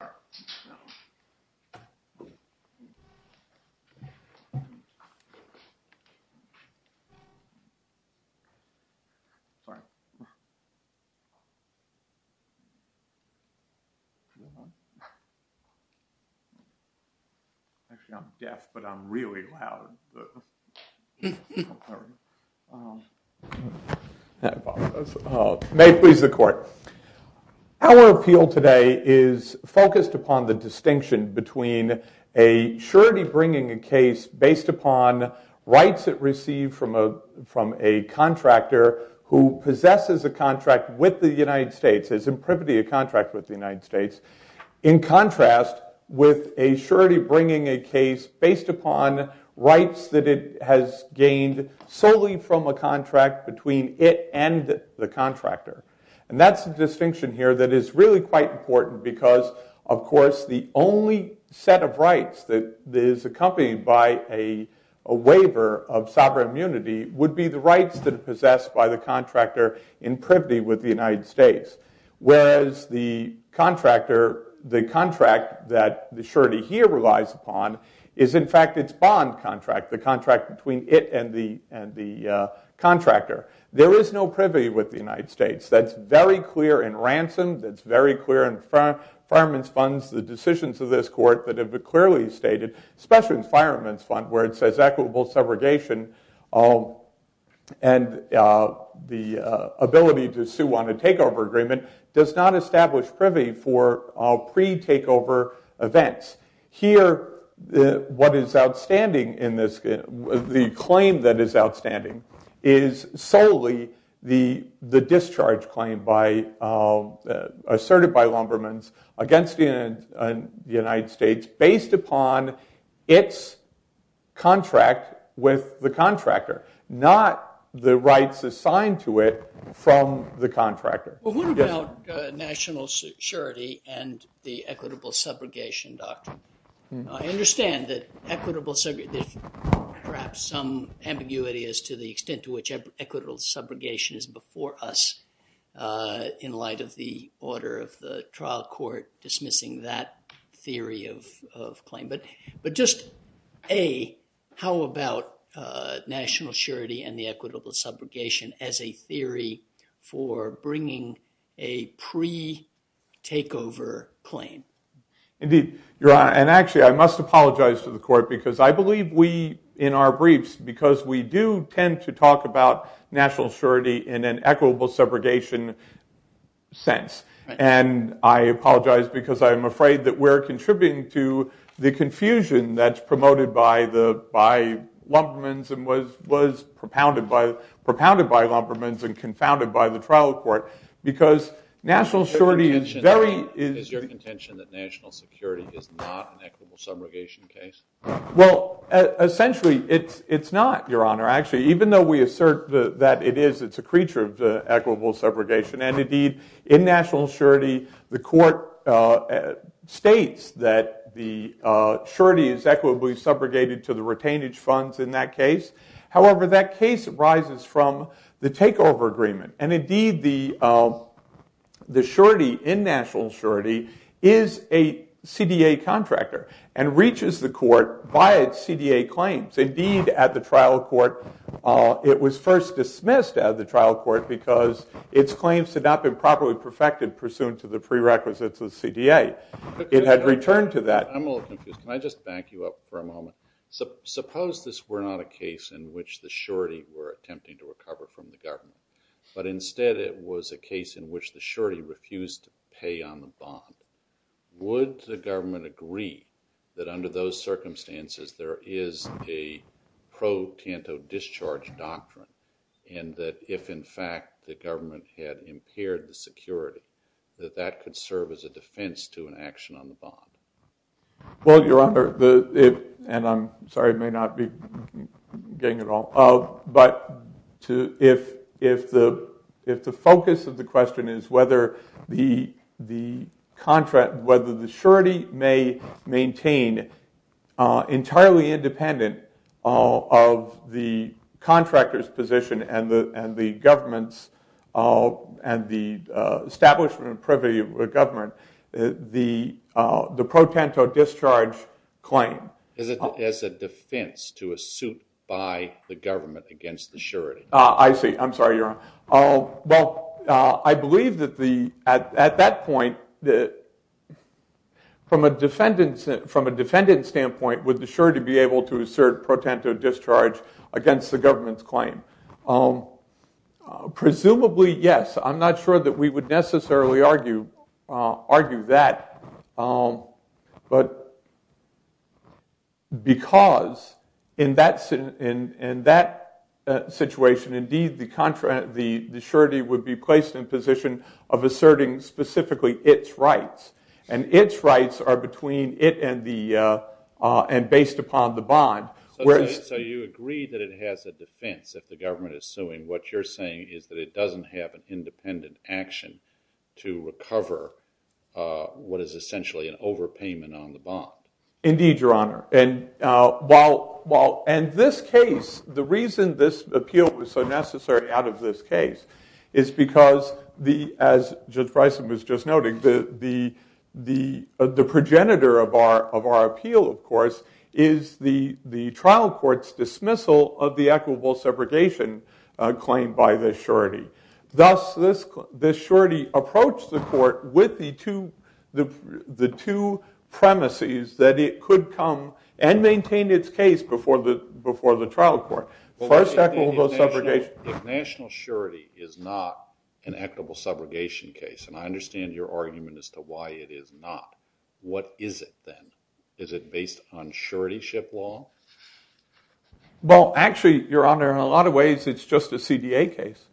Q. May it please the Court, our orchestra appealed today the focus upon the distinction between a surety bringing a case based upon rights it received from a contractor who possesses a contract with the United States, is in privity of contract with the United States, in contrast with a surety bringing a case based upon rights that it has gained solely from a contract between it and the contractor. And that's the distinction here that is really quite important because of course the only set of rights that is accompanied by a waiver of sovereign immunity would be the rights that are possessed by the contractor in privity with the United States. Whereas the contractor, the contract that the surety here relies upon is in fact its bond contract, the contract between it and the contractor. There is no privity with the United States, that's very clear in Ransom, that's very clear in Fireman's Funds, the decisions of this Court that have clearly stated, especially in Fireman's Fund where it says equitable segregation and the ability to sue on a takeover agreement does not establish privity for pre-takeover events. Here what is outstanding in this, the claim that is outstanding is solely the discharge claim asserted by Lumbermans against the United States based upon its contract with the contractor, not the rights assigned to it from the contractor. Well what about national surety and the equitable segregation doctrine? I understand that equitable segregation, perhaps some ambiguity as to the extent to which equitable subrogation is before us in light of the order of the trial court dismissing that theory of claim, but just A, how about national surety and the equitable subrogation as a theory for bringing a pre-takeover claim? Indeed, Your Honor, and actually I must apologize to the Court because I believe we in our briefs because we do tend to talk about national surety in an equitable subrogation sense and I apologize because I'm afraid that we're contributing to the confusion that's promoted by Lumbermans and was propounded by Lumbermans and confounded by the trial court because national surety is very... Is your contention that national security is not an equitable subrogation case? Well essentially it's not, Your Honor, actually even though we assert that it is, it's a creature of equitable subrogation and indeed in national surety the Court states that the surety is equitably subrogated to the retainage funds in that case. However, that case arises from the takeover agreement and indeed the surety in national surety is a CDA contractor and reaches the Court by its CDA claims. Indeed, at the trial court it was first dismissed at the trial court because its claims had not been properly perfected pursuant to the prerequisites of the CDA. It had returned to that. I'm a little confused. Can I just back you up for a moment? Suppose this were not a case in which the surety were attempting to recover from the government but instead it was a case in which the surety refused to pay on the bond. Would the government agree that under those circumstances there is a pro-Tanto discharge doctrine and that if in fact the government had impaired the security that that could serve as a defense to an action on the bond? Well, Your Honor, and I'm sorry I may not be getting it all, but if the focus of the question is whether the surety may maintain entirely independent of the contractor's and the establishment and privity of the government, the pro-Tanto discharge claim. As a defense to a suit by the government against the surety? I see. I'm sorry, Your Honor. Well, I believe that at that point from a defendant's standpoint would the surety be able to assert pro-Tanto discharge against the government's claim. Presumably, yes. I'm not sure that we would necessarily argue that, but because in that situation indeed the surety would be placed in position of asserting specifically its rights and its rights are between it and based upon the bond. So you agree that it has a defense if the government is suing. What you're saying is that it doesn't have an independent action to recover what is essentially an overpayment on the bond. Indeed, Your Honor. And this case, the reason this appeal was so necessary out of this trial court's dismissal of the equitable subrogation claim by the surety. Thus, the surety approached the court with the two premises that it could come and maintain its case before the trial court. First, equitable subrogation. If national surety is not an equitable subrogation case, and I understand your argument as to why it is not, what is it then? Is it based on surety ship law? Well, actually, Your Honor, in a lot of ways it's just a CDA case,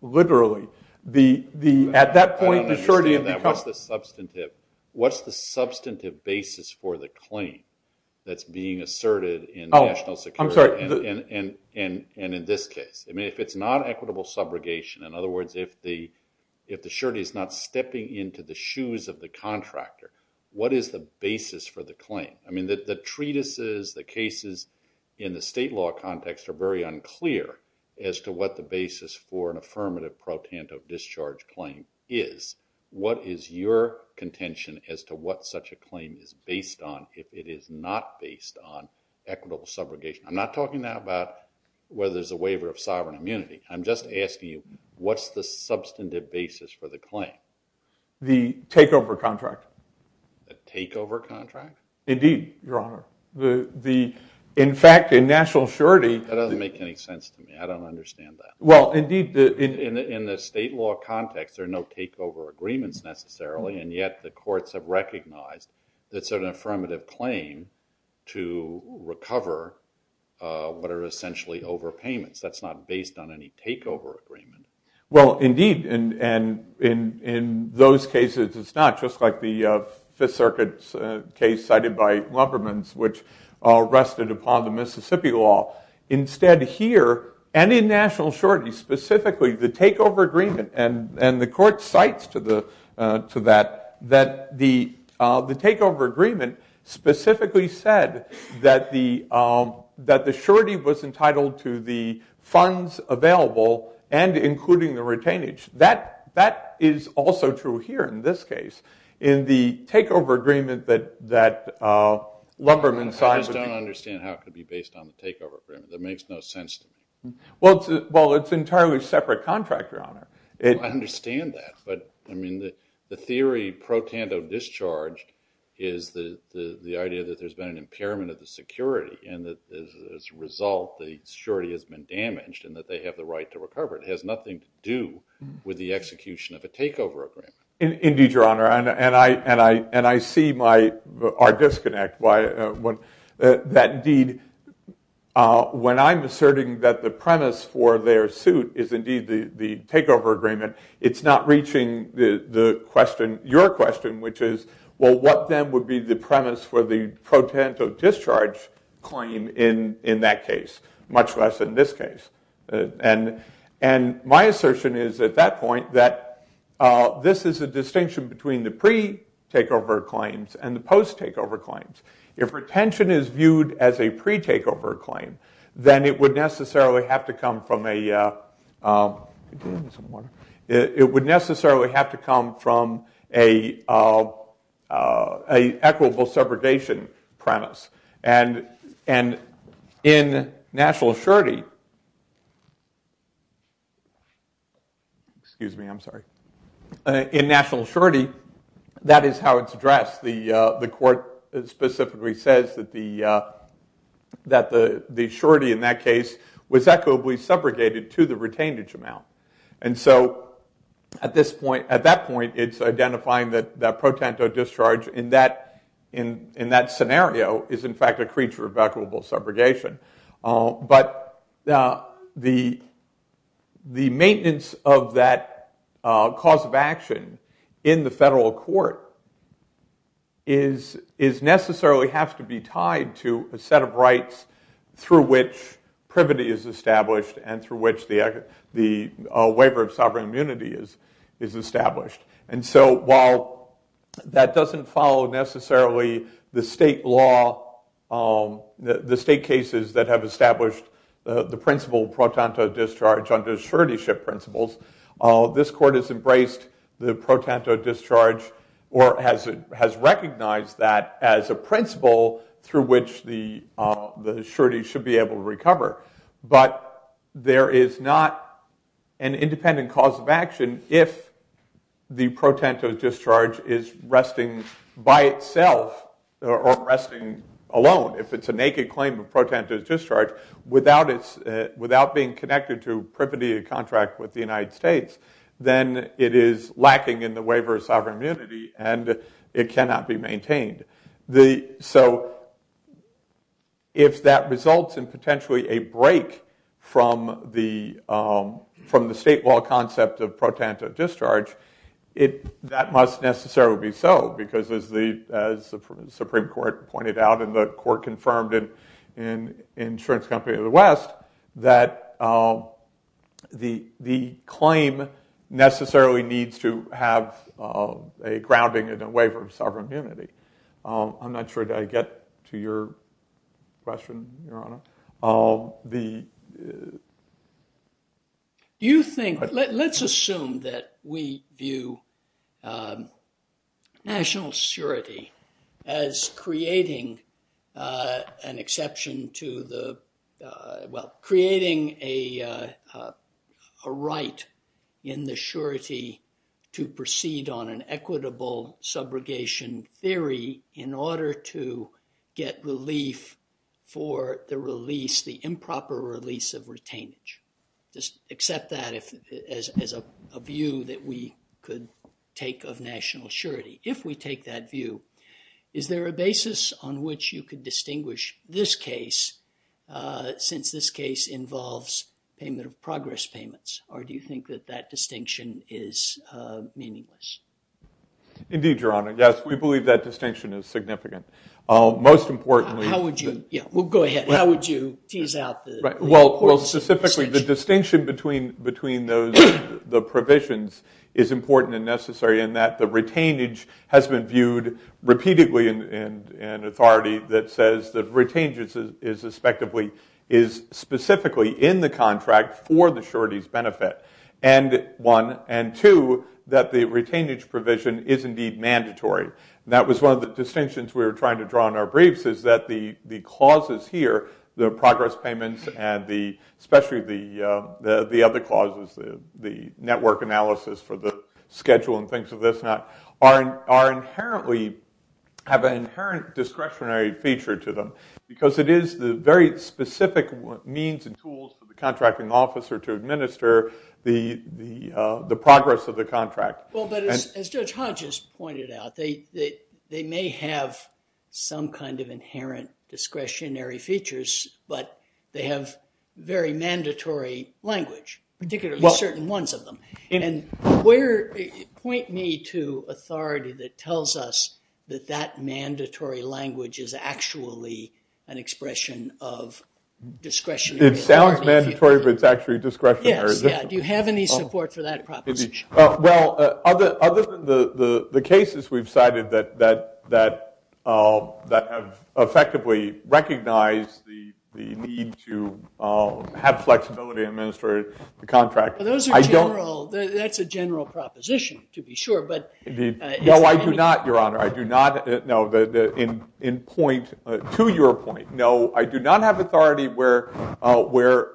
literally. At that point, the surety- I don't understand that. What's the substantive basis for the claim that's being asserted in national security and in this case? If it's not equitable subrogation, in other words, if the surety is not stepping into the shoes of the contractor, what is the basis for the claim? I mean, the treatises, the cases in the state law context are very unclear as to what the basis for an affirmative pro tanto discharge claim is. What is your contention as to what such a claim is based on if it is not based on equitable subrogation? I'm not talking now about whether there's a waiver of sovereign immunity. I'm just asking you, what's the substantive basis for the claim? The takeover contract. The takeover contract? Indeed, Your Honor. In fact, in national surety- That doesn't make any sense to me. I don't understand that. Well, indeed, in the state law context, there are no takeover agreements necessarily, and yet the courts have recognized that it's an affirmative claim to recover what are essentially overpayments. That's not based on any takeover agreement. Well, indeed. In those cases, it's not. Just like the Fifth Circuit's case cited by Luppermans, which rested upon the Mississippi law. Instead here, and in national surety specifically, the takeover agreement, and the court cites to that, that the takeover agreement specifically said that the surety was entitled to the funds available and including the retainage. That is also true here in this case. In the takeover agreement that Luppermans cited- I just don't understand how it could be based on the takeover agreement. That makes no sense to me. Well, it's an entirely separate contract, Your Honor. I understand that, but the theory pro tanto discharge is the idea that there's been an impairment of the security, and that as a result, the surety has been damaged, and that they have the right to recover. It has nothing to do with the execution of a takeover agreement. Indeed, Your Honor. I see our disconnect. When I'm asserting that the premise for their suit is indeed the takeover agreement, it's not reaching your question, which is, well, what then would be the premise for the pro tanto discharge claim in that case, much less in this case? My assertion is, at that point, that this is a distinction between the pre-takeover claims and the post-takeover claims. If retention is viewed as a pre-takeover claim, then it would necessarily have to come from a equitable separation premise, and in national surety, excuse me, I'm sorry. In national surety, that is how it's addressed. The court specifically says that the surety in that case was equitably segregated to the retained amount, and so at that point, it's identifying that pro tanto discharge in that scenario is, in fact, a creature of equitable subrogation. But the maintenance of that cause of action in the federal court necessarily has to be tied to a set of rights through which privity is established and through which the waiver of sovereign immunity is established. And so while that doesn't follow necessarily the state law, the state cases that have established the principle pro tanto discharge under surety principles, this court has embraced the pro tanto discharge or has recognized that as a principle through which the surety should be able to recover. But there is not an independent cause of action if the pro tanto discharge is resting by itself or resting alone. If it's a naked claim of pro tanto discharge without being connected to privity of contract with the United States, then it is lacking in the waiver of sovereign immunity and it cannot be from the state law concept of pro tanto discharge. That must necessarily be so, because as the Supreme Court pointed out and the court confirmed in Insurance Company of the West, that the claim necessarily needs to have a grounding and a waiver of sovereign immunity. I'm not sure that I get to your question, Your Honor. Let's assume that we view national surety as creating a right in the surety to proceed on equitable subrogation theory in order to get relief for the release, the improper release of retainage. Just accept that as a view that we could take of national surety. If we take that view, is there a basis on which you could distinguish this case since this case involves payment of progress payments? Or do you think that that distinction is meaningless? Indeed, Your Honor. Yes, we believe that distinction is significant. Most importantly- How would you? Yeah, well, go ahead. How would you tease out the- Well, specifically, the distinction between the provisions is important and necessary in that the retainage has been viewed repeatedly in authority that says the retainage is specifically in the mandatory. That was one of the distinctions we were trying to draw in our briefs is that the clauses here, the progress payments and especially the other clauses, the network analysis for the schedule and things of this, are inherently- have an inherent discretionary feature to them. Because it is the very specific means and tools for the contracting officer to administer the progress of the contract. Well, but as Judge Hodges pointed out, they may have some kind of inherent discretionary features, but they have very mandatory language, particularly certain ones of them. And point me to authority that tells us that that mandatory language is actually an expression of discretionary- It sounds mandatory, but it's discretionary. Yes, yeah. Do you have any support for that proposition? Well, other than the cases we've cited that have effectively recognized the need to have flexibility in administering the contract- Those are general. That's a general proposition, to be sure, but- No, I do not, Your Honor. I do not, no, in point, to your point, no, I do not have authority where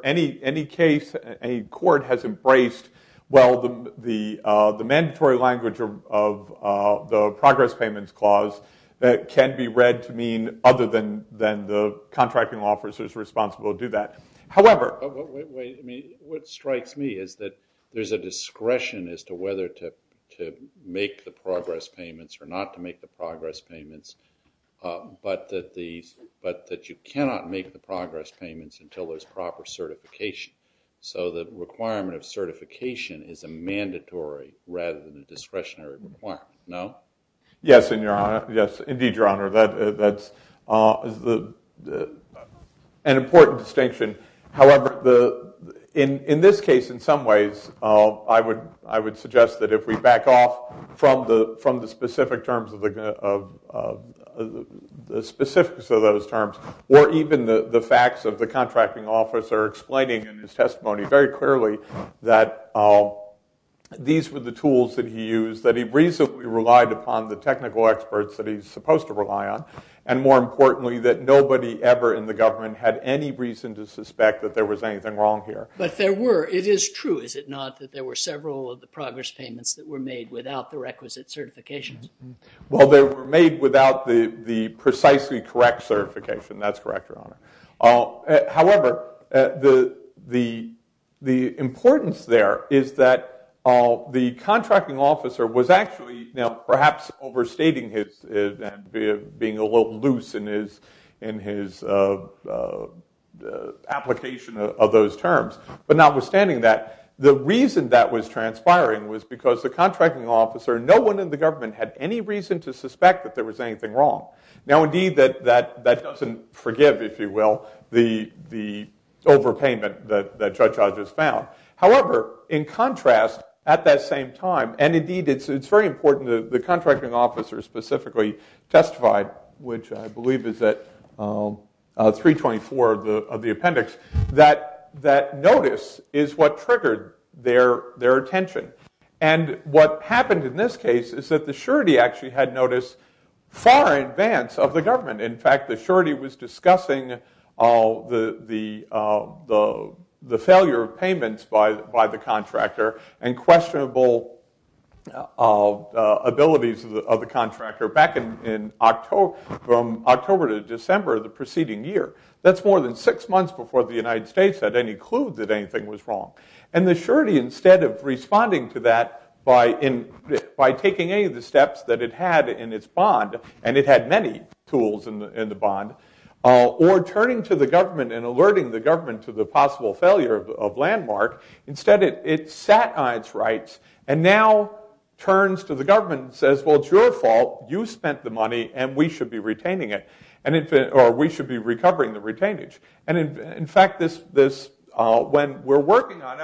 any case, any court has embraced, well, the mandatory language of the progress payments clause that can be read to mean other than the contracting officer is responsible to do that. However- What strikes me is that there's a discretion as to whether to make the progress payments or not to make the progress payments, but that you cannot make the progress payments until there's proper certification. So the requirement of certification is a mandatory rather than a discretionary requirement, no? Yes, indeed, Your Honor. That's an important distinction. However, in this case, in some ways, I would suggest that if we back off from the specific terms of the specifics of those terms, or even the facts of the contracting officer explaining in his testimony very clearly that these were the tools that he used, that he reasonably relied upon the technical experts that he's supposed to rely on, and more importantly, that nobody ever in the government had any reason to suspect that there was anything wrong here. But there were. It is true, is it not, that there were several of the progress payments that were made without the requisite certifications? Well, they were made without the precisely correct certification. That's correct, Your Honor. However, the importance there is that the contracting officer was actually, perhaps overstating his being a little loose in his application of those terms. But notwithstanding that, the reason that was transpiring was because the contracting officer, no one in the government had any reason to suspect that there was anything wrong. Now, indeed, that doesn't forgive, if you will, the overpayment that Judge Hodges found. However, in contrast, at that same time, and it's very important that the contracting officer specifically testified, which I believe is at 324 of the appendix, that notice is what triggered their attention. And what happened in this case is that the surety actually had notice far in advance of the government. In fact, the surety was discussing the failure of payments by the contractor and questionable abilities of the contractor back from October to December of the preceding year. That's more than six months before the United States had any clue that anything was wrong. And the surety, instead of responding to that by taking any of the steps that it had in its bond, and it had many tools in the bond, or turning to the government and alerting the government to the possible failure of Landmark, instead it sat on its rights and now turns to the government and says, well, it's your fault, you spent the money, and we should be retaining it, or we should be recovering the retainage. And in fact, when we're working on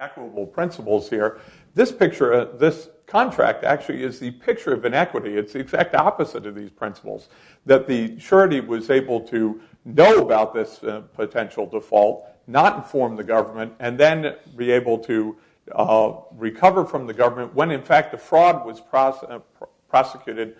equitable principles here, this picture, this contract actually is the picture of inequity. It's the exact opposite of these principles, that the surety was able to know about this potential default, not inform the government, and then be able to recover from the government when in fact the fraud was prosecuted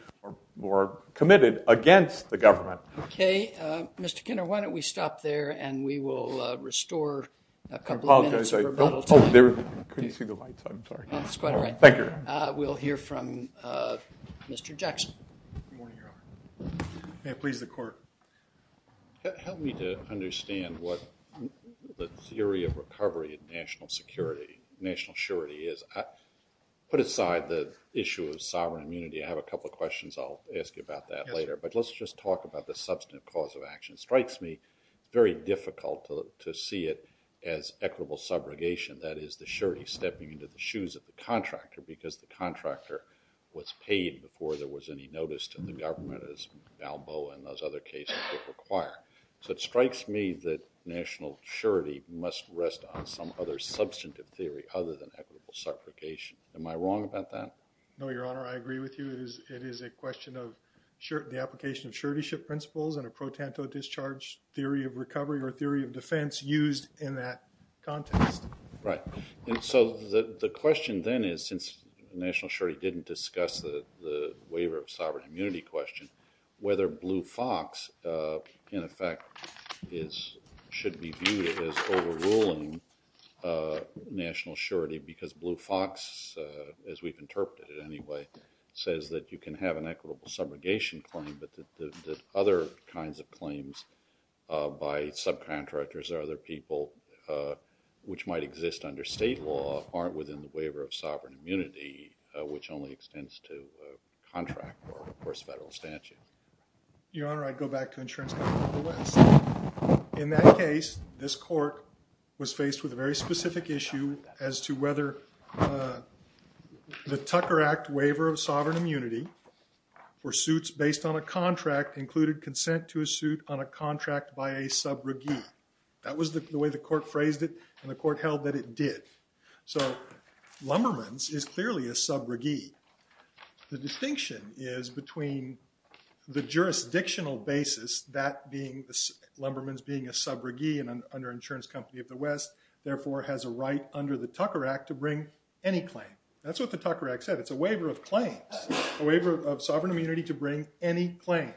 or committed against the government. Why don't we stop there, and we will restore a couple of minutes. I apologize. I couldn't see the lights. I'm sorry. That's quite all right. Thank you. We'll hear from Mr. Jackson. May it please the court. Help me to understand what the theory of recovery in national security, national surety is. Put aside the issue of sovereign immunity, I have a couple of questions I'll ask you about that later, but let's just talk about the substantive cause of action. Strikes me very difficult to see it as equitable subrogation, that is the surety stepping into the shoes of the contractor, because the contractor was paid before there was any notice to the government, as Balboa and those other cases would require. So it strikes me that national surety must rest on some other substantive theory other than equitable subrogation. Am I wrong about that? No, Your Honor. I agree with you. It is a question of the application of suretyship principles and a pro tanto discharge theory of recovery or theory of defense used in that context. Right. So the question then is, since national surety didn't discuss the waiver of sovereign immunity question, whether Blue Fox, in effect, should be viewed as overruling national surety, because Blue Fox, as we've interpreted it anyway, says that you can have an equitable subrogation claim, but the other kinds of claims by subcontractors or other people, which might exist under state law, aren't within the waiver of sovereign immunity, which only extends to a contract or, of course, federal statute. Your Honor, I'd go back to Insurance Company of the West. In that case, this court was faced with a very specific issue as to whether the Tucker Act waiver of sovereign immunity for suits based on a contract included consent to a suit on a contract by a subrogee. That was the way the court phrased it, and the court held that it did. So Lumbermans is clearly a subrogee. The distinction is between the jurisdictional basis, Lumbermans being a subrogee and an under-insurance company of the West, therefore, has a right under the Tucker Act to bring any claim. That's what the Tucker Act said. It's a waiver of claims, a waiver of sovereign immunity to bring any claims.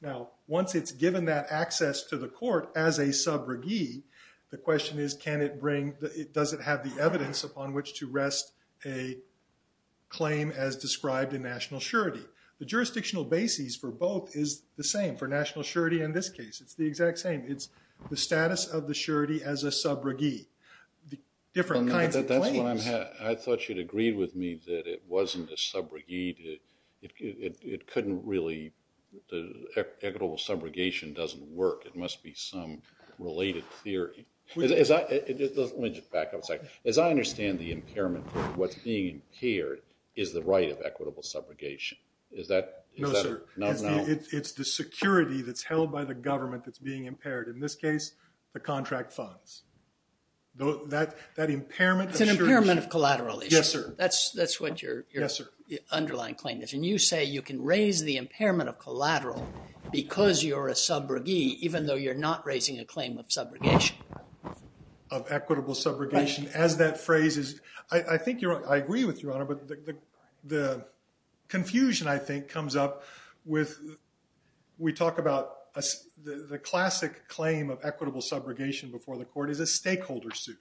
Now, once it's given that access to the court as a subrogee, the question is, can it bring, does it have the evidence upon which to rest a claim as described in national surety? The jurisdictional basis for both is the same. For national surety in this case, it's the exact same. It's the status of the surety as a subrogee, the different kinds of claims. I thought you'd agreed with me that it wasn't a subrogee. It couldn't really, the equitable subrogation doesn't work. It must be some related theory. Let me just back up a second. As I understand the impairment, what's being impaired is the right of equitable subrogation. Is that? No, sir. No, no. It's the security that's held by the government that's being impaired. In this case, the contract funds. That impairment. It's an impairment of collateral. Yes, sir. That's what your underlying claim is. And you say you can raise the impairment of collateral because you're a subrogee, even though you're not raising a claim of subrogation. Of equitable subrogation. As that phrase is, I think you're right. I agree with you, but the confusion I think comes up with, we talk about the classic claim of equitable subrogation before the court is a stakeholder suit.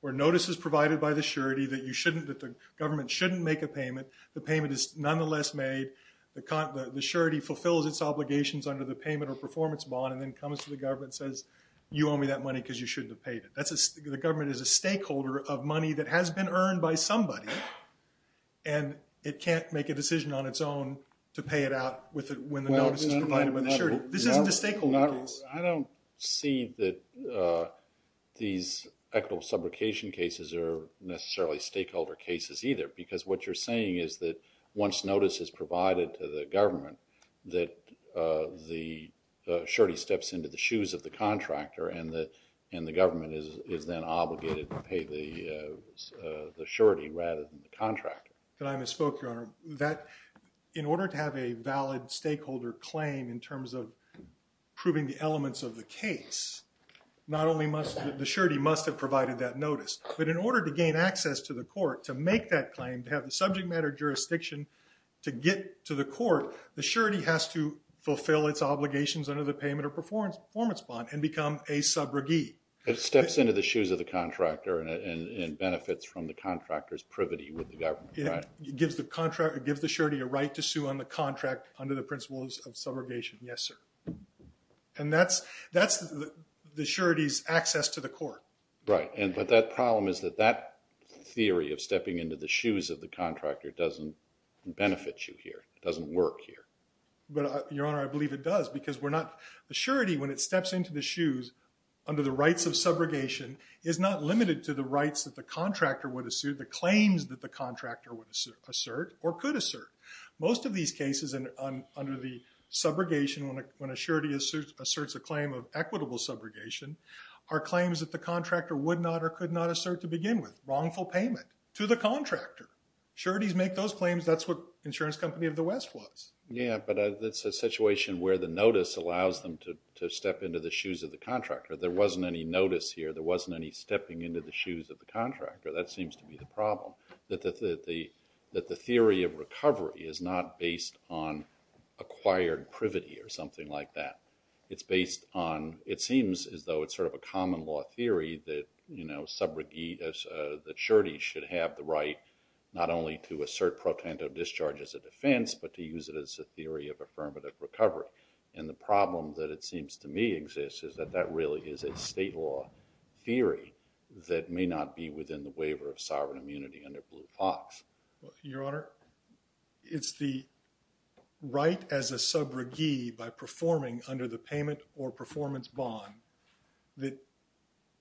Where notice is provided by the surety that you shouldn't, that the government shouldn't make a payment. The payment is nonetheless made. The surety fulfills its obligations under the payment or performance bond and then comes to the government and says, you owe me that money because you shouldn't have and it can't make a decision on its own to pay it out when the notice is provided by the surety. This isn't a stakeholder case. I don't see that these equitable subrogation cases are necessarily stakeholder cases either because what you're saying is that once notice is provided to the government that the surety steps into the shoes of the contractor and the government is then obligated to pay the surety rather than the contractor. I misspoke, Your Honor. In order to have a valid stakeholder claim in terms of proving the elements of the case, the surety must have provided that notice. But in order to gain access to the court to make that claim, to have the subject matter jurisdiction to get to the court, the surety has to fulfill its obligations under the payment or performance bond and become a subrogee. It steps into the shoes of the contractor and benefits from the contractor's privity with the government, right? It gives the surety a right to sue on the contract under the principles of subrogation. Yes, sir. And that's the surety's access to the court. Right, but that problem is that that theory of stepping into the shoes of the contractor doesn't benefit you here. It doesn't work here. But, Your Honor, I believe it does because we're not... The surety, when it steps into the shoes under the rights of subrogation, is not limited to the rights that the contractor would assert, the claims that the contractor would assert or could assert. Most of these cases under the subrogation, when a surety asserts a claim of equitable subrogation, are claims that the contractor would not or could not assert to begin with. Wrongful payment to the contractor. Sureties make those claims. That's what Insurance Company of the West was. Yeah, but that's a situation where the notice allows them to step into the shoes of the contractor. There wasn't any notice here. There wasn't any stepping into the shoes of the contractor. That seems to be the problem. That the theory of recovery is not based on acquired privity or something like that. It's based on... It seems as though it's sort of a common law theory that surety should have the affirmative recovery. And the problem that it seems to me exists is that that really is a state law theory that may not be within the waiver of sovereign immunity under Blue Fox. Your Honor, it's the right as a subrogee by performing under the payment or performance bond that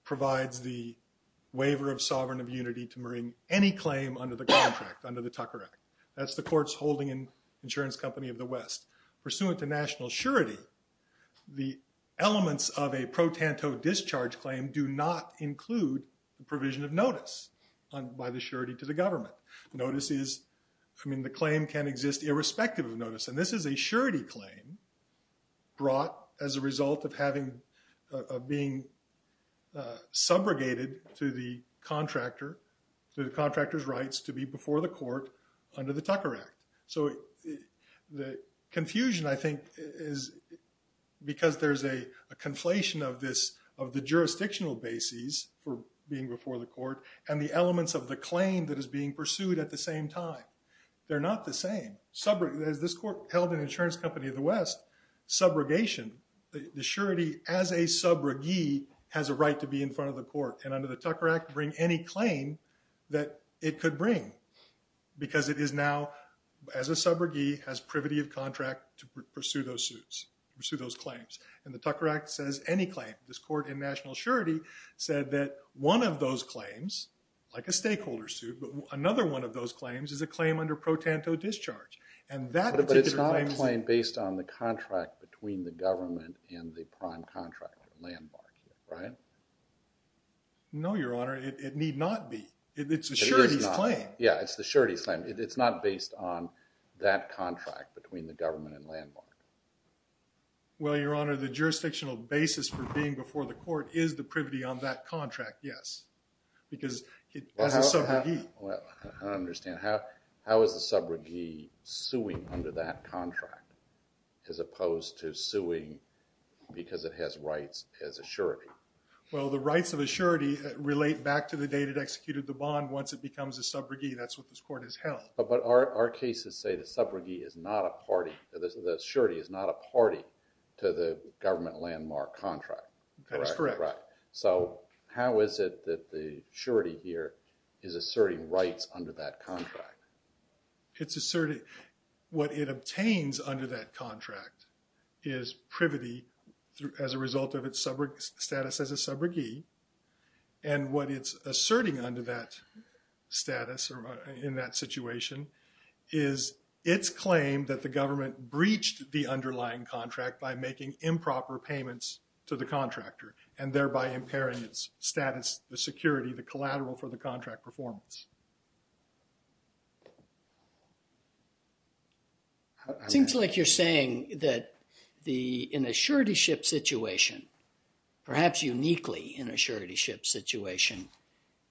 provides the waiver of sovereign immunity to bring any claim under the contract, under the Tucker Act. That's the court's holding in Insurance Company of the West. Pursuant to national surety, the elements of a pro tanto discharge claim do not include the provision of notice by the surety to the government. Notice is... I mean, the claim can exist irrespective of notice. And this is a surety claim brought as a result of being subrogated to the contractor, to the contractor's rights to be before the court under the Tucker Act. So the confusion I think is because there's a conflation of this, of the jurisdictional bases for being before the court and the elements of the claim that is being pursued at the same time. They're not the same. This court held in Insurance Company of the West, subrogation, the surety as a subrogee has a right to be in front of the court and under because it is now, as a subrogee, has privity of contract to pursue those suits, pursue those claims. And the Tucker Act says any claim. This court in national surety said that one of those claims, like a stakeholder suit, but another one of those claims is a claim under pro tanto discharge. And that particular claim... But it's not a claim based on the contract between the government and the prime contractor, Landmark, right? No, Your Honor. It need not be. It's a surety's claim. Yeah, it's the surety's claim. It's not based on that contract between the government and Landmark. Well, Your Honor, the jurisdictional basis for being before the court is the privity on that contract, yes. Because as a subrogee... I don't understand. How is the subrogee suing under that contract as opposed to suing because it has rights as a surety? Well, the rights of a surety relate back to the date it executed the bond once it becomes a subrogee. That's what this court has held. But our cases say the subrogee is not a party, the surety is not a party to the government Landmark contract. That is correct. So how is it that the surety here is asserting rights under that contract? It's asserting... What it obtains under that contract is privity as a result of its status as a subrogee. And what it's status in that situation is its claim that the government breached the underlying contract by making improper payments to the contractor and thereby impairing its status, the security, the collateral for the contract performance. It seems like you're saying that in a surety situation,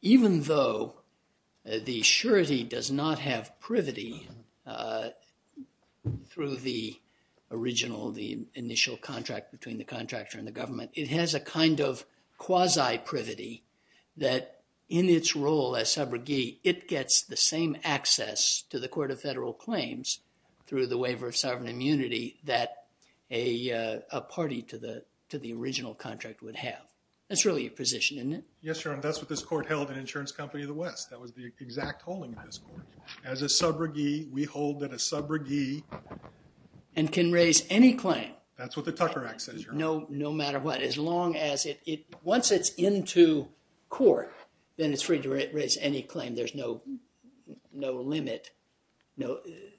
even though the surety does not have privity through the original, the initial contract between the contractor and the government, it has a kind of quasi-privity that in its role as subrogee, it gets the same access to the court of federal claims through the waiver of sovereign immunity. Yes, Your Honor. That's what this court held in Insurance Company of the West. That was the exact holding of this court. As a subrogee, we hold that a subrogee... And can raise any claim. That's what the Tucker Act says, Your Honor. No matter what. As long as it... Once it's into court, then it's free to raise any claim. There's no limit.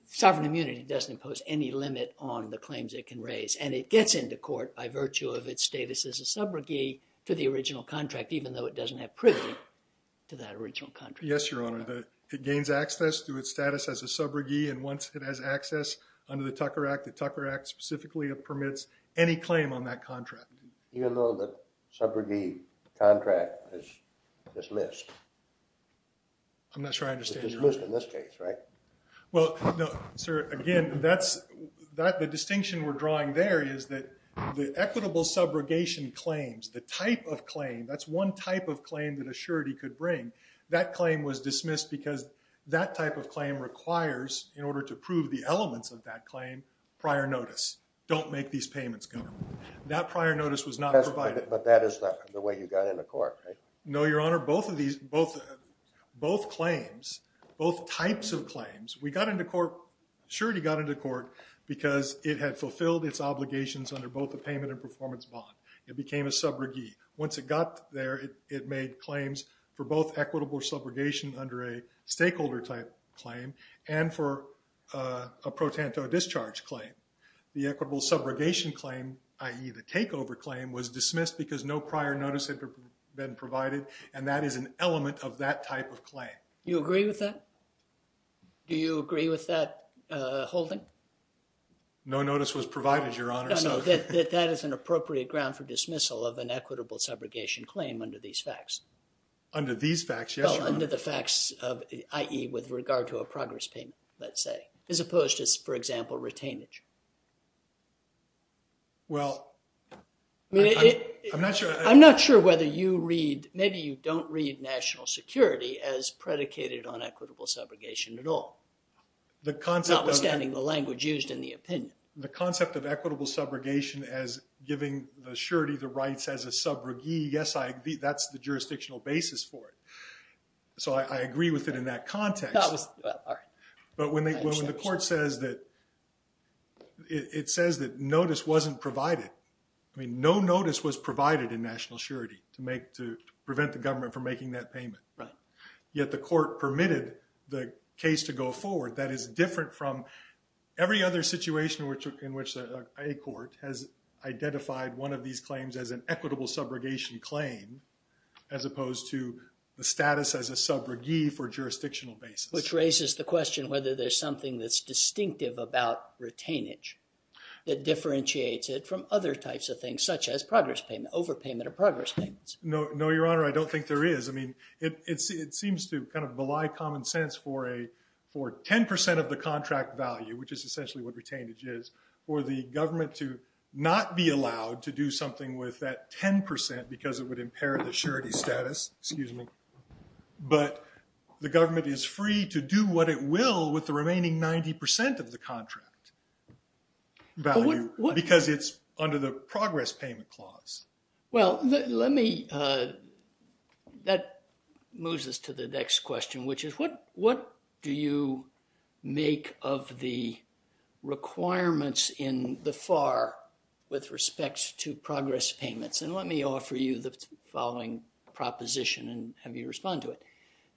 Sovereign immunity doesn't impose any limit on the claims it can raise. And it gets into court by virtue of its status as a subrogee to the original contract, even though it doesn't have privity to that original contract. Yes, Your Honor. It gains access through its status as a subrogee. And once it has access under the Tucker Act, the Tucker Act specifically permits any claim on that contract. Even though the subrogee contract is dismissed. I'm not sure I understand. It's dismissed in this case, right? Well, no, sir. Again, that's... The distinction we're drawing there is that the equitable subrogation claims, the type of claim, that's one type of claim that a surety could bring, that claim was dismissed because that type of claim requires, in order to prove the elements of that claim, prior notice. Don't make these payments, Governor. That prior notice was not provided. But that is the way you got into court, right? No, Your Honor. Both claims, both types of claims, we got into court... Surety got into court because it had fulfilled its performance bond. It became a subrogee. Once it got there, it made claims for both equitable subrogation under a stakeholder type claim and for a pro tanto discharge claim. The equitable subrogation claim, i.e. the takeover claim, was dismissed because no prior notice had been provided. And that is an element of that type of claim. You agree with that? Do you agree with that, Your Honor? No notice was provided, Your Honor. No, that is an appropriate ground for dismissal of an equitable subrogation claim under these facts. Under these facts, yes, Your Honor. Under the facts of, i.e. with regard to a progress payment, let's say, as opposed to, for example, retainage. Well, I'm not sure... I'm not sure whether you read, maybe you don't read national security as predicated on equitable subrogation at all, notwithstanding the language used in the opinion. The concept of equitable subrogation as giving the surety the rights as a subrogee, yes, that's the jurisdictional basis for it. So I agree with it in that context. But when the court says that... It says that notice wasn't provided. I mean, no notice was provided. Yet the court permitted the case to go forward. That is different from every other situation in which a court has identified one of these claims as an equitable subrogation claim as opposed to the status as a subrogee for jurisdictional basis. Which raises the question whether there's something that's distinctive about retainage that differentiates it from other types of things, such as progress payment, overpayment of progress payments. No, Your Honor, I don't think there is. I mean, it seems to kind of belie common sense for 10% of the contract value, which is essentially what retainage is, for the government to not be allowed to do something with that 10% because it would impair the surety status, excuse me. But the government is free to do what it will with the remaining 90% of the contract value because it's under the progress payment clause. Well, let me... That moves us to the next question, which is what do you make of the requirements in the FAR with respect to progress payments? And let me offer you the following proposition and have you respond to it.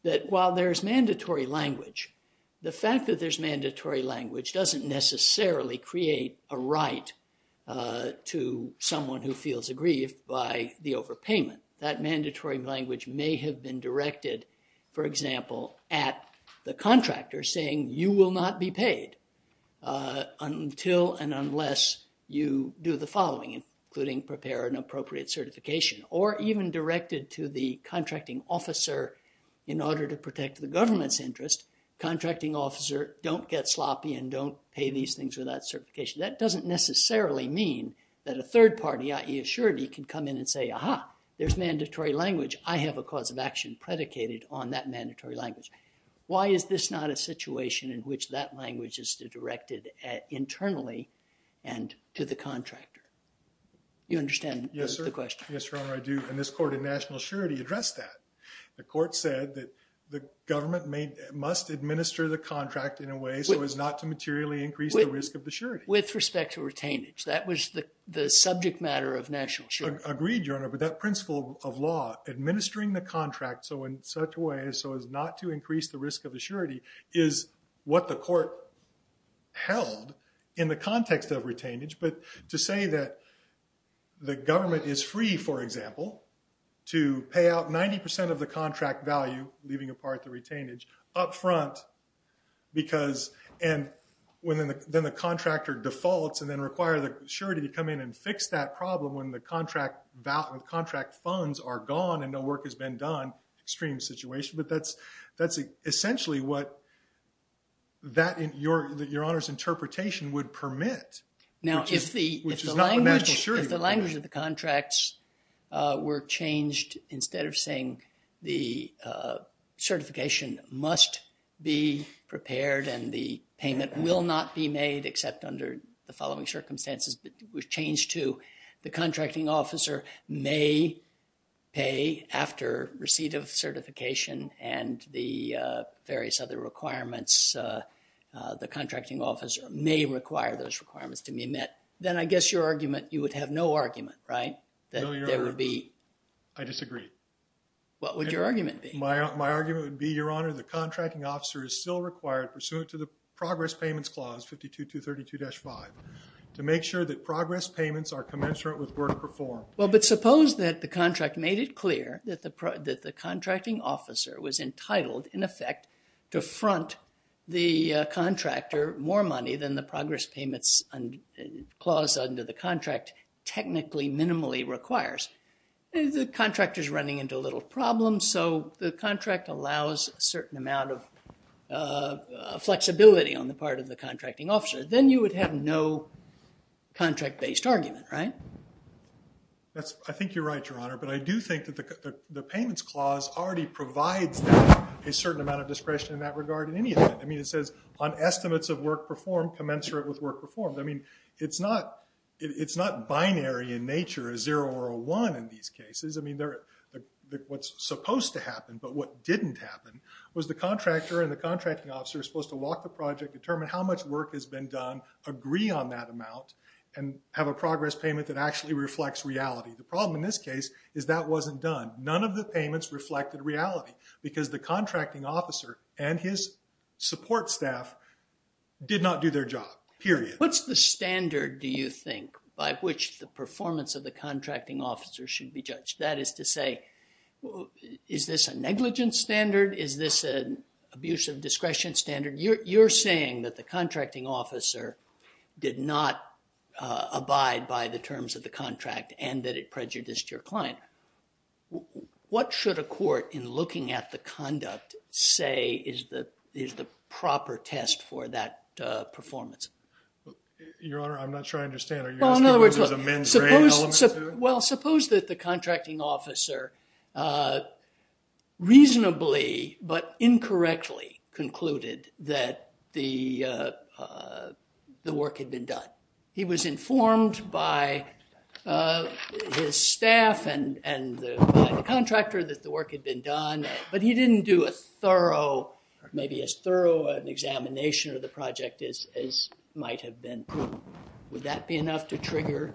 That while there's mandatory language, the fact that there's mandatory language doesn't necessarily create a right to someone who feels aggrieved by the overpayment. That mandatory language may have been directed, for example, at the contractor saying you will not be paid until and unless you do the following, including prepare an appropriate certification, or even directed to the contracting officer in order to say, contracting officer, don't get sloppy and don't pay these things without certification. That doesn't necessarily mean that a third party, i.e. a surety, can come in and say, aha, there's mandatory language. I have a cause of action predicated on that mandatory language. Why is this not a situation in which that language is directed internally and to the contractor? You understand the question? Yes, sir. Yes, your honor, I do. And this court in national surety addressed that. The court said that the government must administer the contract in a way so as not to materially increase the risk of the surety. With respect to retainage. That was the subject matter of national surety. Agreed, your honor. But that principle of law, administering the contract in such a way so as not to increase the risk of the surety, is what the court held in the context of retainage. But to say that the government is free, for example, to pay out 90% of the contract value, leaving apart the retainage, up front because then the contractor defaults and then require the surety to come in and fix that problem when the contract funds are gone and no work has been done, extreme situation. But that's essentially what your honor's interpretation would permit. Now, if the language of the contracts were changed instead of saying the certification must be prepared and the payment will not be made except under the following circumstances, but was changed to the contracting officer may pay after receipt of certification and the various other requirements, the contracting officer may require those requirements to be met, then I guess your argument, you would have no argument, right? I disagree. What would your argument be? My argument would be, your honor, the contracting officer is still required pursuant to the progress payments clause, 5232-5, to make sure that progress payments are commensurate with entitled, in effect, to front the contractor more money than the progress payments clause under the contract technically minimally requires. The contractor is running into a little problem, so the contract allows a certain amount of flexibility on the part of the contracting officer. Then you would have no contract-based argument, right? I think you're right, your honor, but I do think that the payments clause already provides them a certain amount of discretion in that regard in any event. I mean, it says on estimates of work performed, commensurate with work performed. I mean, it's not binary in nature, a zero or a one in these cases. I mean, what's supposed to happen but what didn't happen was the contractor and the contracting officer are supposed to walk the project, determine how much work has been done, agree on that amount, and have a progress payment that actually reflects reality. The problem in this case is that wasn't done. None of the payments reflected reality because the contracting officer and his support staff did not do their job, period. What's the standard, do you think, by which the performance of the contracting officer should be judged? That is to say, is this a negligence standard? Is this an abuse of discretion standard? You're saying that the contracting officer did not abide by the terms of the contract and that it prejudiced your client. What should a court, in looking at the conduct, say is the proper test for that performance? Your honor, I'm not sure I understand. Are you asking what there's a mens rea element to? Well, suppose that the contracting officer reasonably but incorrectly concluded that the work had been done. He was informed by his staff and the contractor that the work had been done but he didn't do a thorough, maybe as thorough an examination of the project as might have been. Would that be enough to trigger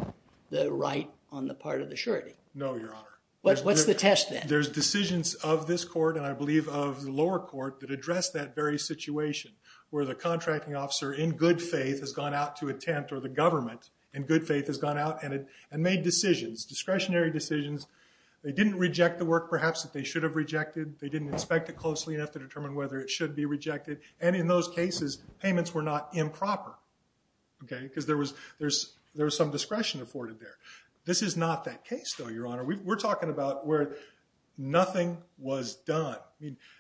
the right on the part of the surety? No, your honor. What's the test then? There's decisions of this court and I believe of the lower court that address that situation where the contracting officer, in good faith, has gone out to a tent or the government, in good faith, has gone out and made decisions, discretionary decisions. They didn't reject the work perhaps that they should have rejected. They didn't inspect it closely enough to determine whether it should be rejected. And in those cases, payments were not improper because there was some discretion afforded there. This is not that case, though, your honor. We're talking about where nothing was done.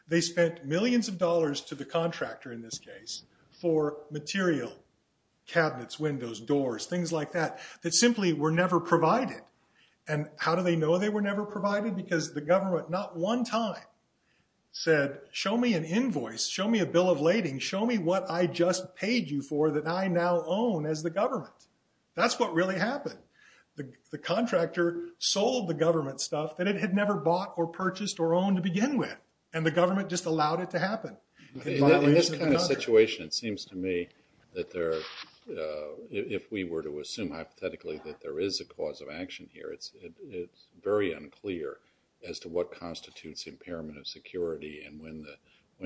They spent millions of dollars to the contractor in this case for material, cabinets, windows, doors, things like that, that simply were never provided. And how do they know they were never provided? Because the government not one time said, show me an invoice, show me a bill of lading, show me what I just paid you for that I now own as the government. That's what really happened. The contractor sold the government stuff that it had never bought or purchased or owned to begin with. And the government just allowed it to happen. In this kind of situation, it seems to me that there, if we were to assume hypothetically that there is a cause of action here, it's very unclear as to what constitutes impairment of security and when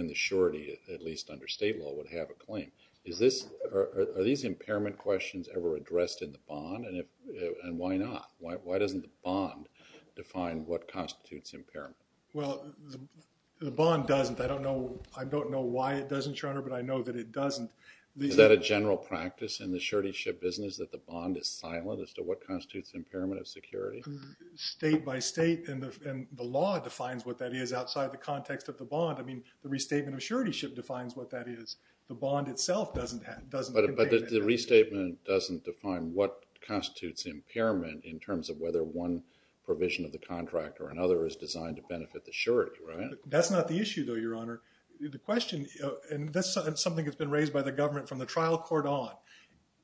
the surety, at least under state law, would have a claim. Is this, are these impairment questions ever addressed in the bond? And why not? Why doesn't the bond define what constitutes impairment? Well, the bond doesn't. I don't know, I don't know why it doesn't, your honor, but I know that it doesn't. Is that a general practice in the surety ship business that the bond is silent as to what constitutes impairment of security? State by state and the law defines what that is outside the context of the bond. I mean, the restatement of surety ship defines what that is. The bond itself doesn't contain it. But the restatement doesn't define what constitutes impairment in terms of whether one provision of the contract or another is designed to benefit the surety, right? That's not the issue, though, your honor. The question, and that's something that's been raised by the government from the trial court on.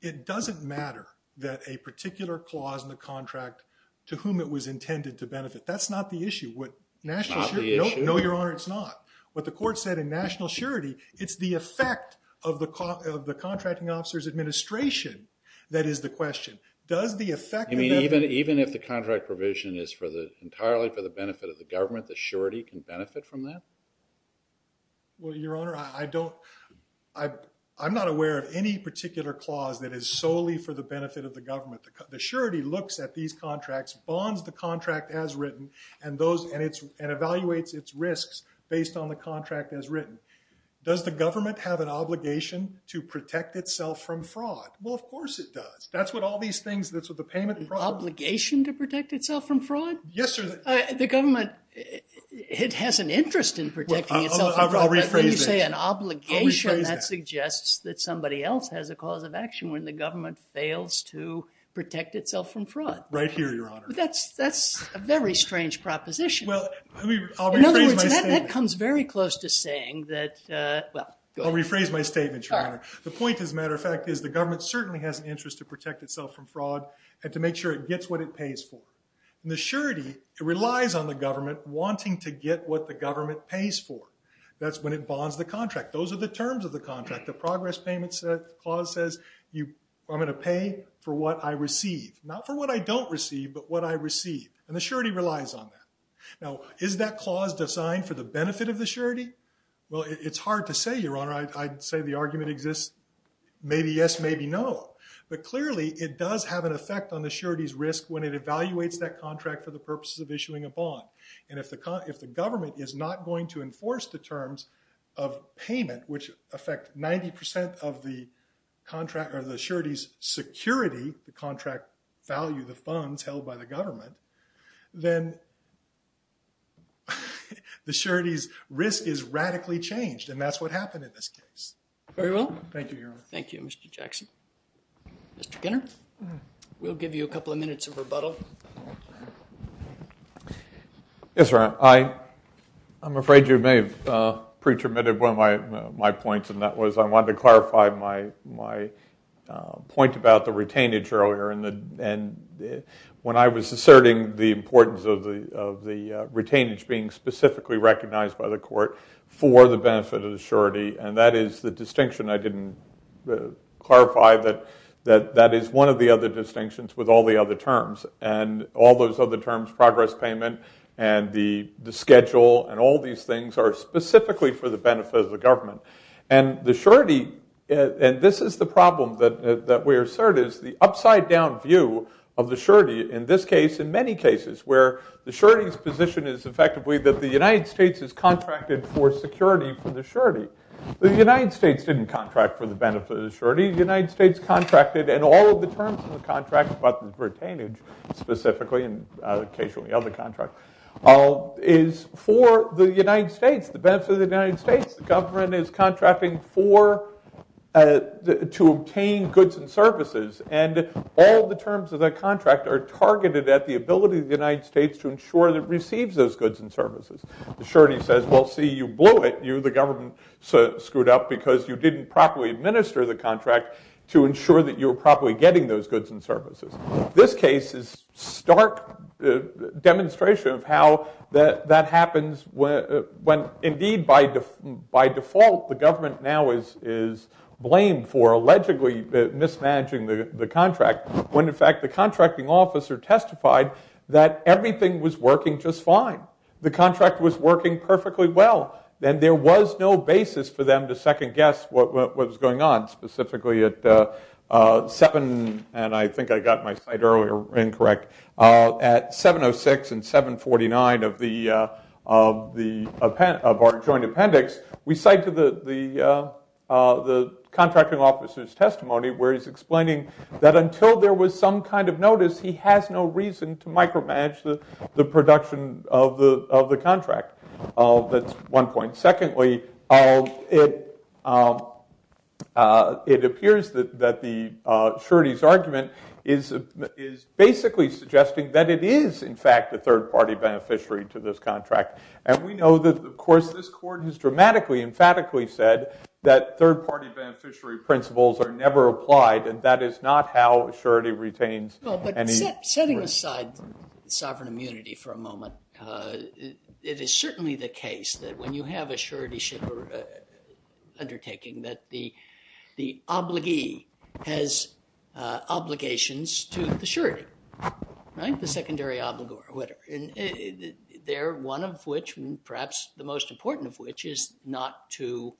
It doesn't matter that a particular clause in the contract to whom it was intended to benefit. That's not the issue. What national surety, it's the effect of the contracting officer's administration that is the question. Does the effect... I mean, even if the contract provision is for the, entirely for the benefit of the government, the surety can benefit from that? Well, your honor, I don't, I'm not aware of any particular clause that is solely for the benefit of the government. The surety looks at these contracts, bonds the contract as written, and those, and it's, and evaluates its risks based on the contract as written. Does the government have an obligation to protect itself from fraud? Well, of course it does. That's what all these things, that's what the payment... Obligation to protect itself from fraud? Yes, sir. The government, it has an interest in protecting itself from fraud, but when you say an obligation, that suggests that somebody else has a cause of action when the government fails to protect itself from fraud. Right here, your honor. That's, that's a very strange proposition. Well, I mean, I'll rephrase my statement. That comes very close to saying that, well, go ahead. I'll rephrase my statement, your honor. The point, as a matter of fact, is the government certainly has an interest to protect itself from fraud, and to make sure it gets what it pays for. And the surety, it relies on the government wanting to get what the government pays for. That's when it bonds the contract. Those are the terms of the contract. The progress payment clause says, you, I'm going to pay for what I receive. Not for what I don't receive, but what I receive. And the surety relies on that. Now, is that clause designed for the benefit of the surety? Well, it's hard to say, your honor. I'd say the argument exists, maybe yes, maybe no. But clearly, it does have an effect on the surety's risk when it evaluates that contract for the purposes of issuing a bond. And if the government is not going to enforce the terms of payment, which affect 90% of the contract, or the surety's security, the contract value, the funds held by the government, then the surety's risk is radically changed. And that's what happened in this case. Very well. Thank you, your honor. Thank you, Mr. Jackson. Mr. Kinner? We'll give you a couple of minutes of rebuttal. Yes, your honor. I'm afraid you may have pre-terminated one of my points, and that was, I wanted to clarify my point about the retainage earlier. And when I was asserting the importance of the retainage being specifically recognized by the court for the benefit of the surety, and that is the distinction I didn't clarify, that is one of the other distinctions with all the other terms. And all those other terms, progress payment, and the schedule, and all And the surety, and this is the problem that we assert, is the upside down view of the surety, in this case, in many cases, where the surety's position is effectively that the United States is contracted for security for the surety. The United States didn't contract for the benefit of the surety. The United States contracted, and all of the terms of the contract about the retainage, specifically, and occasionally other contracts, is for the United States, the benefit of the United States. The government is contracting to obtain goods and services, and all the terms of that contract are targeted at the ability of the United States to ensure that it receives those goods and services. The surety says, well, see, you blew it. The government screwed up because you didn't properly administer the contract to ensure that you were properly getting those goods and services. This case is a stark demonstration of how that happens when, indeed, by default, the government now is blamed for allegedly mismanaging the contract, when, in fact, the contracting officer testified that everything was working just fine. The contract was working perfectly well, and there was no basis for them to second guess what was going on, of our joint appendix. We cite the contracting officer's testimony where he's explaining that until there was some kind of notice, he has no reason to micromanage the production of the contract. That's one point. Secondly, it appears that the surety's argument is basically suggesting that it is, in fact, a third-party beneficiary to this contract. And we know that, of course, this court has dramatically, emphatically said that third-party beneficiary principles are never applied, and that is not how surety retains any risk. Well, but setting aside sovereign immunity for a moment, it is certainly the case that when you have a surety undertaking that the secondary obligor whitter, one of which, perhaps the most important of which, is not to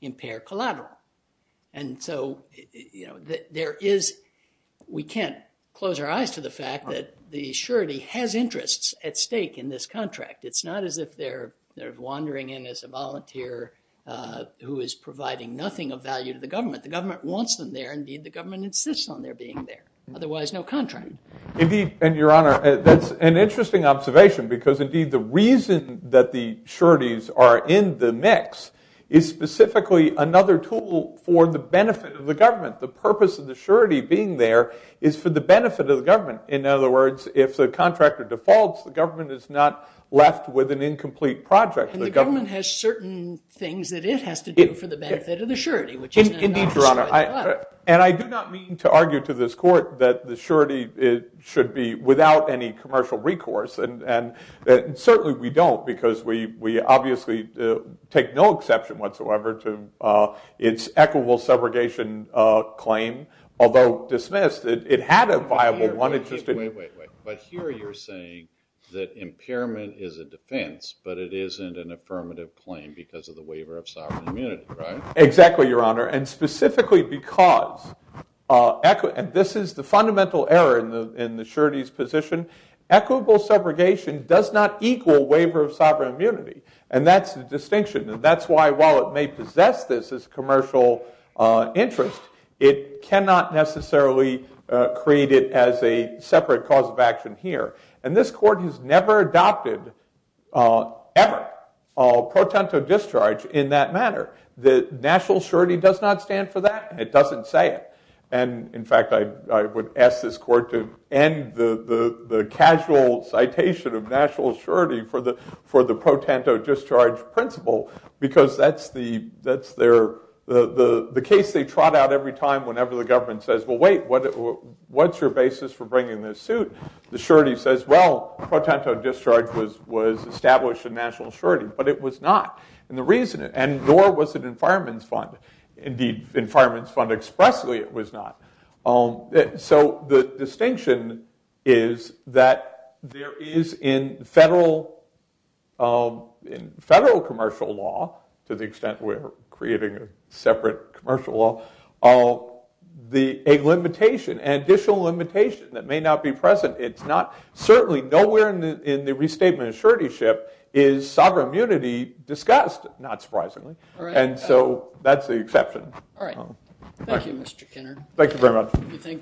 impair collateral. And so we can't close our eyes to the fact that the surety has interests at stake in this contract. It's not as if they're wandering in as a volunteer who is providing nothing of value to the government. The government wants them there. Indeed, the government insists on their there. Otherwise, no contract. Indeed, and your honor, that's an interesting observation, because indeed the reason that the sureties are in the mix is specifically another tool for the benefit of the government. The purpose of the surety being there is for the benefit of the government. In other words, if the contractor defaults, the government is not left with an incomplete project. The government has certain things that it has to do for the surety. Indeed, your honor, and I do not mean to argue to this court that the surety should be without any commercial recourse. And certainly we don't, because we obviously take no exception whatsoever to its equitable segregation claim. Although dismissed, it had a viable one. But here you're saying that impairment is a defense, but it isn't an affirmative claim because of the waiver of sovereign immunity, right? Exactly, your honor. And specifically because, and this is the fundamental error in the surety's position, equitable segregation does not equal waiver of sovereign immunity. And that's the distinction. And that's why, while it may possess this as commercial interest, it cannot necessarily create it as a separate cause of action here. And this court has never adopted, ever, pro tanto discharge in that manner. The national surety does not stand for that, and it doesn't say it. And in fact, I would ask this court to end the casual citation of national surety for the pro tanto discharge principle, because that's the case they trot out every time whenever the government says, wait, what's your basis for bringing this suit? The surety says, well, pro tanto discharge was established in national surety, but it was not. And nor was it in Fireman's Fund. Indeed, in Fireman's Fund expressly it was not. So the distinction is that there is in federal commercial law, to the extent we're creating a separate commercial law, a limitation, an additional limitation that may not be present. It's not, certainly nowhere in the restatement of surety ship is sovereign immunity discussed, not surprisingly. And so that's the exception. All right. Thank you, Mr. Kenner. Thank you very much.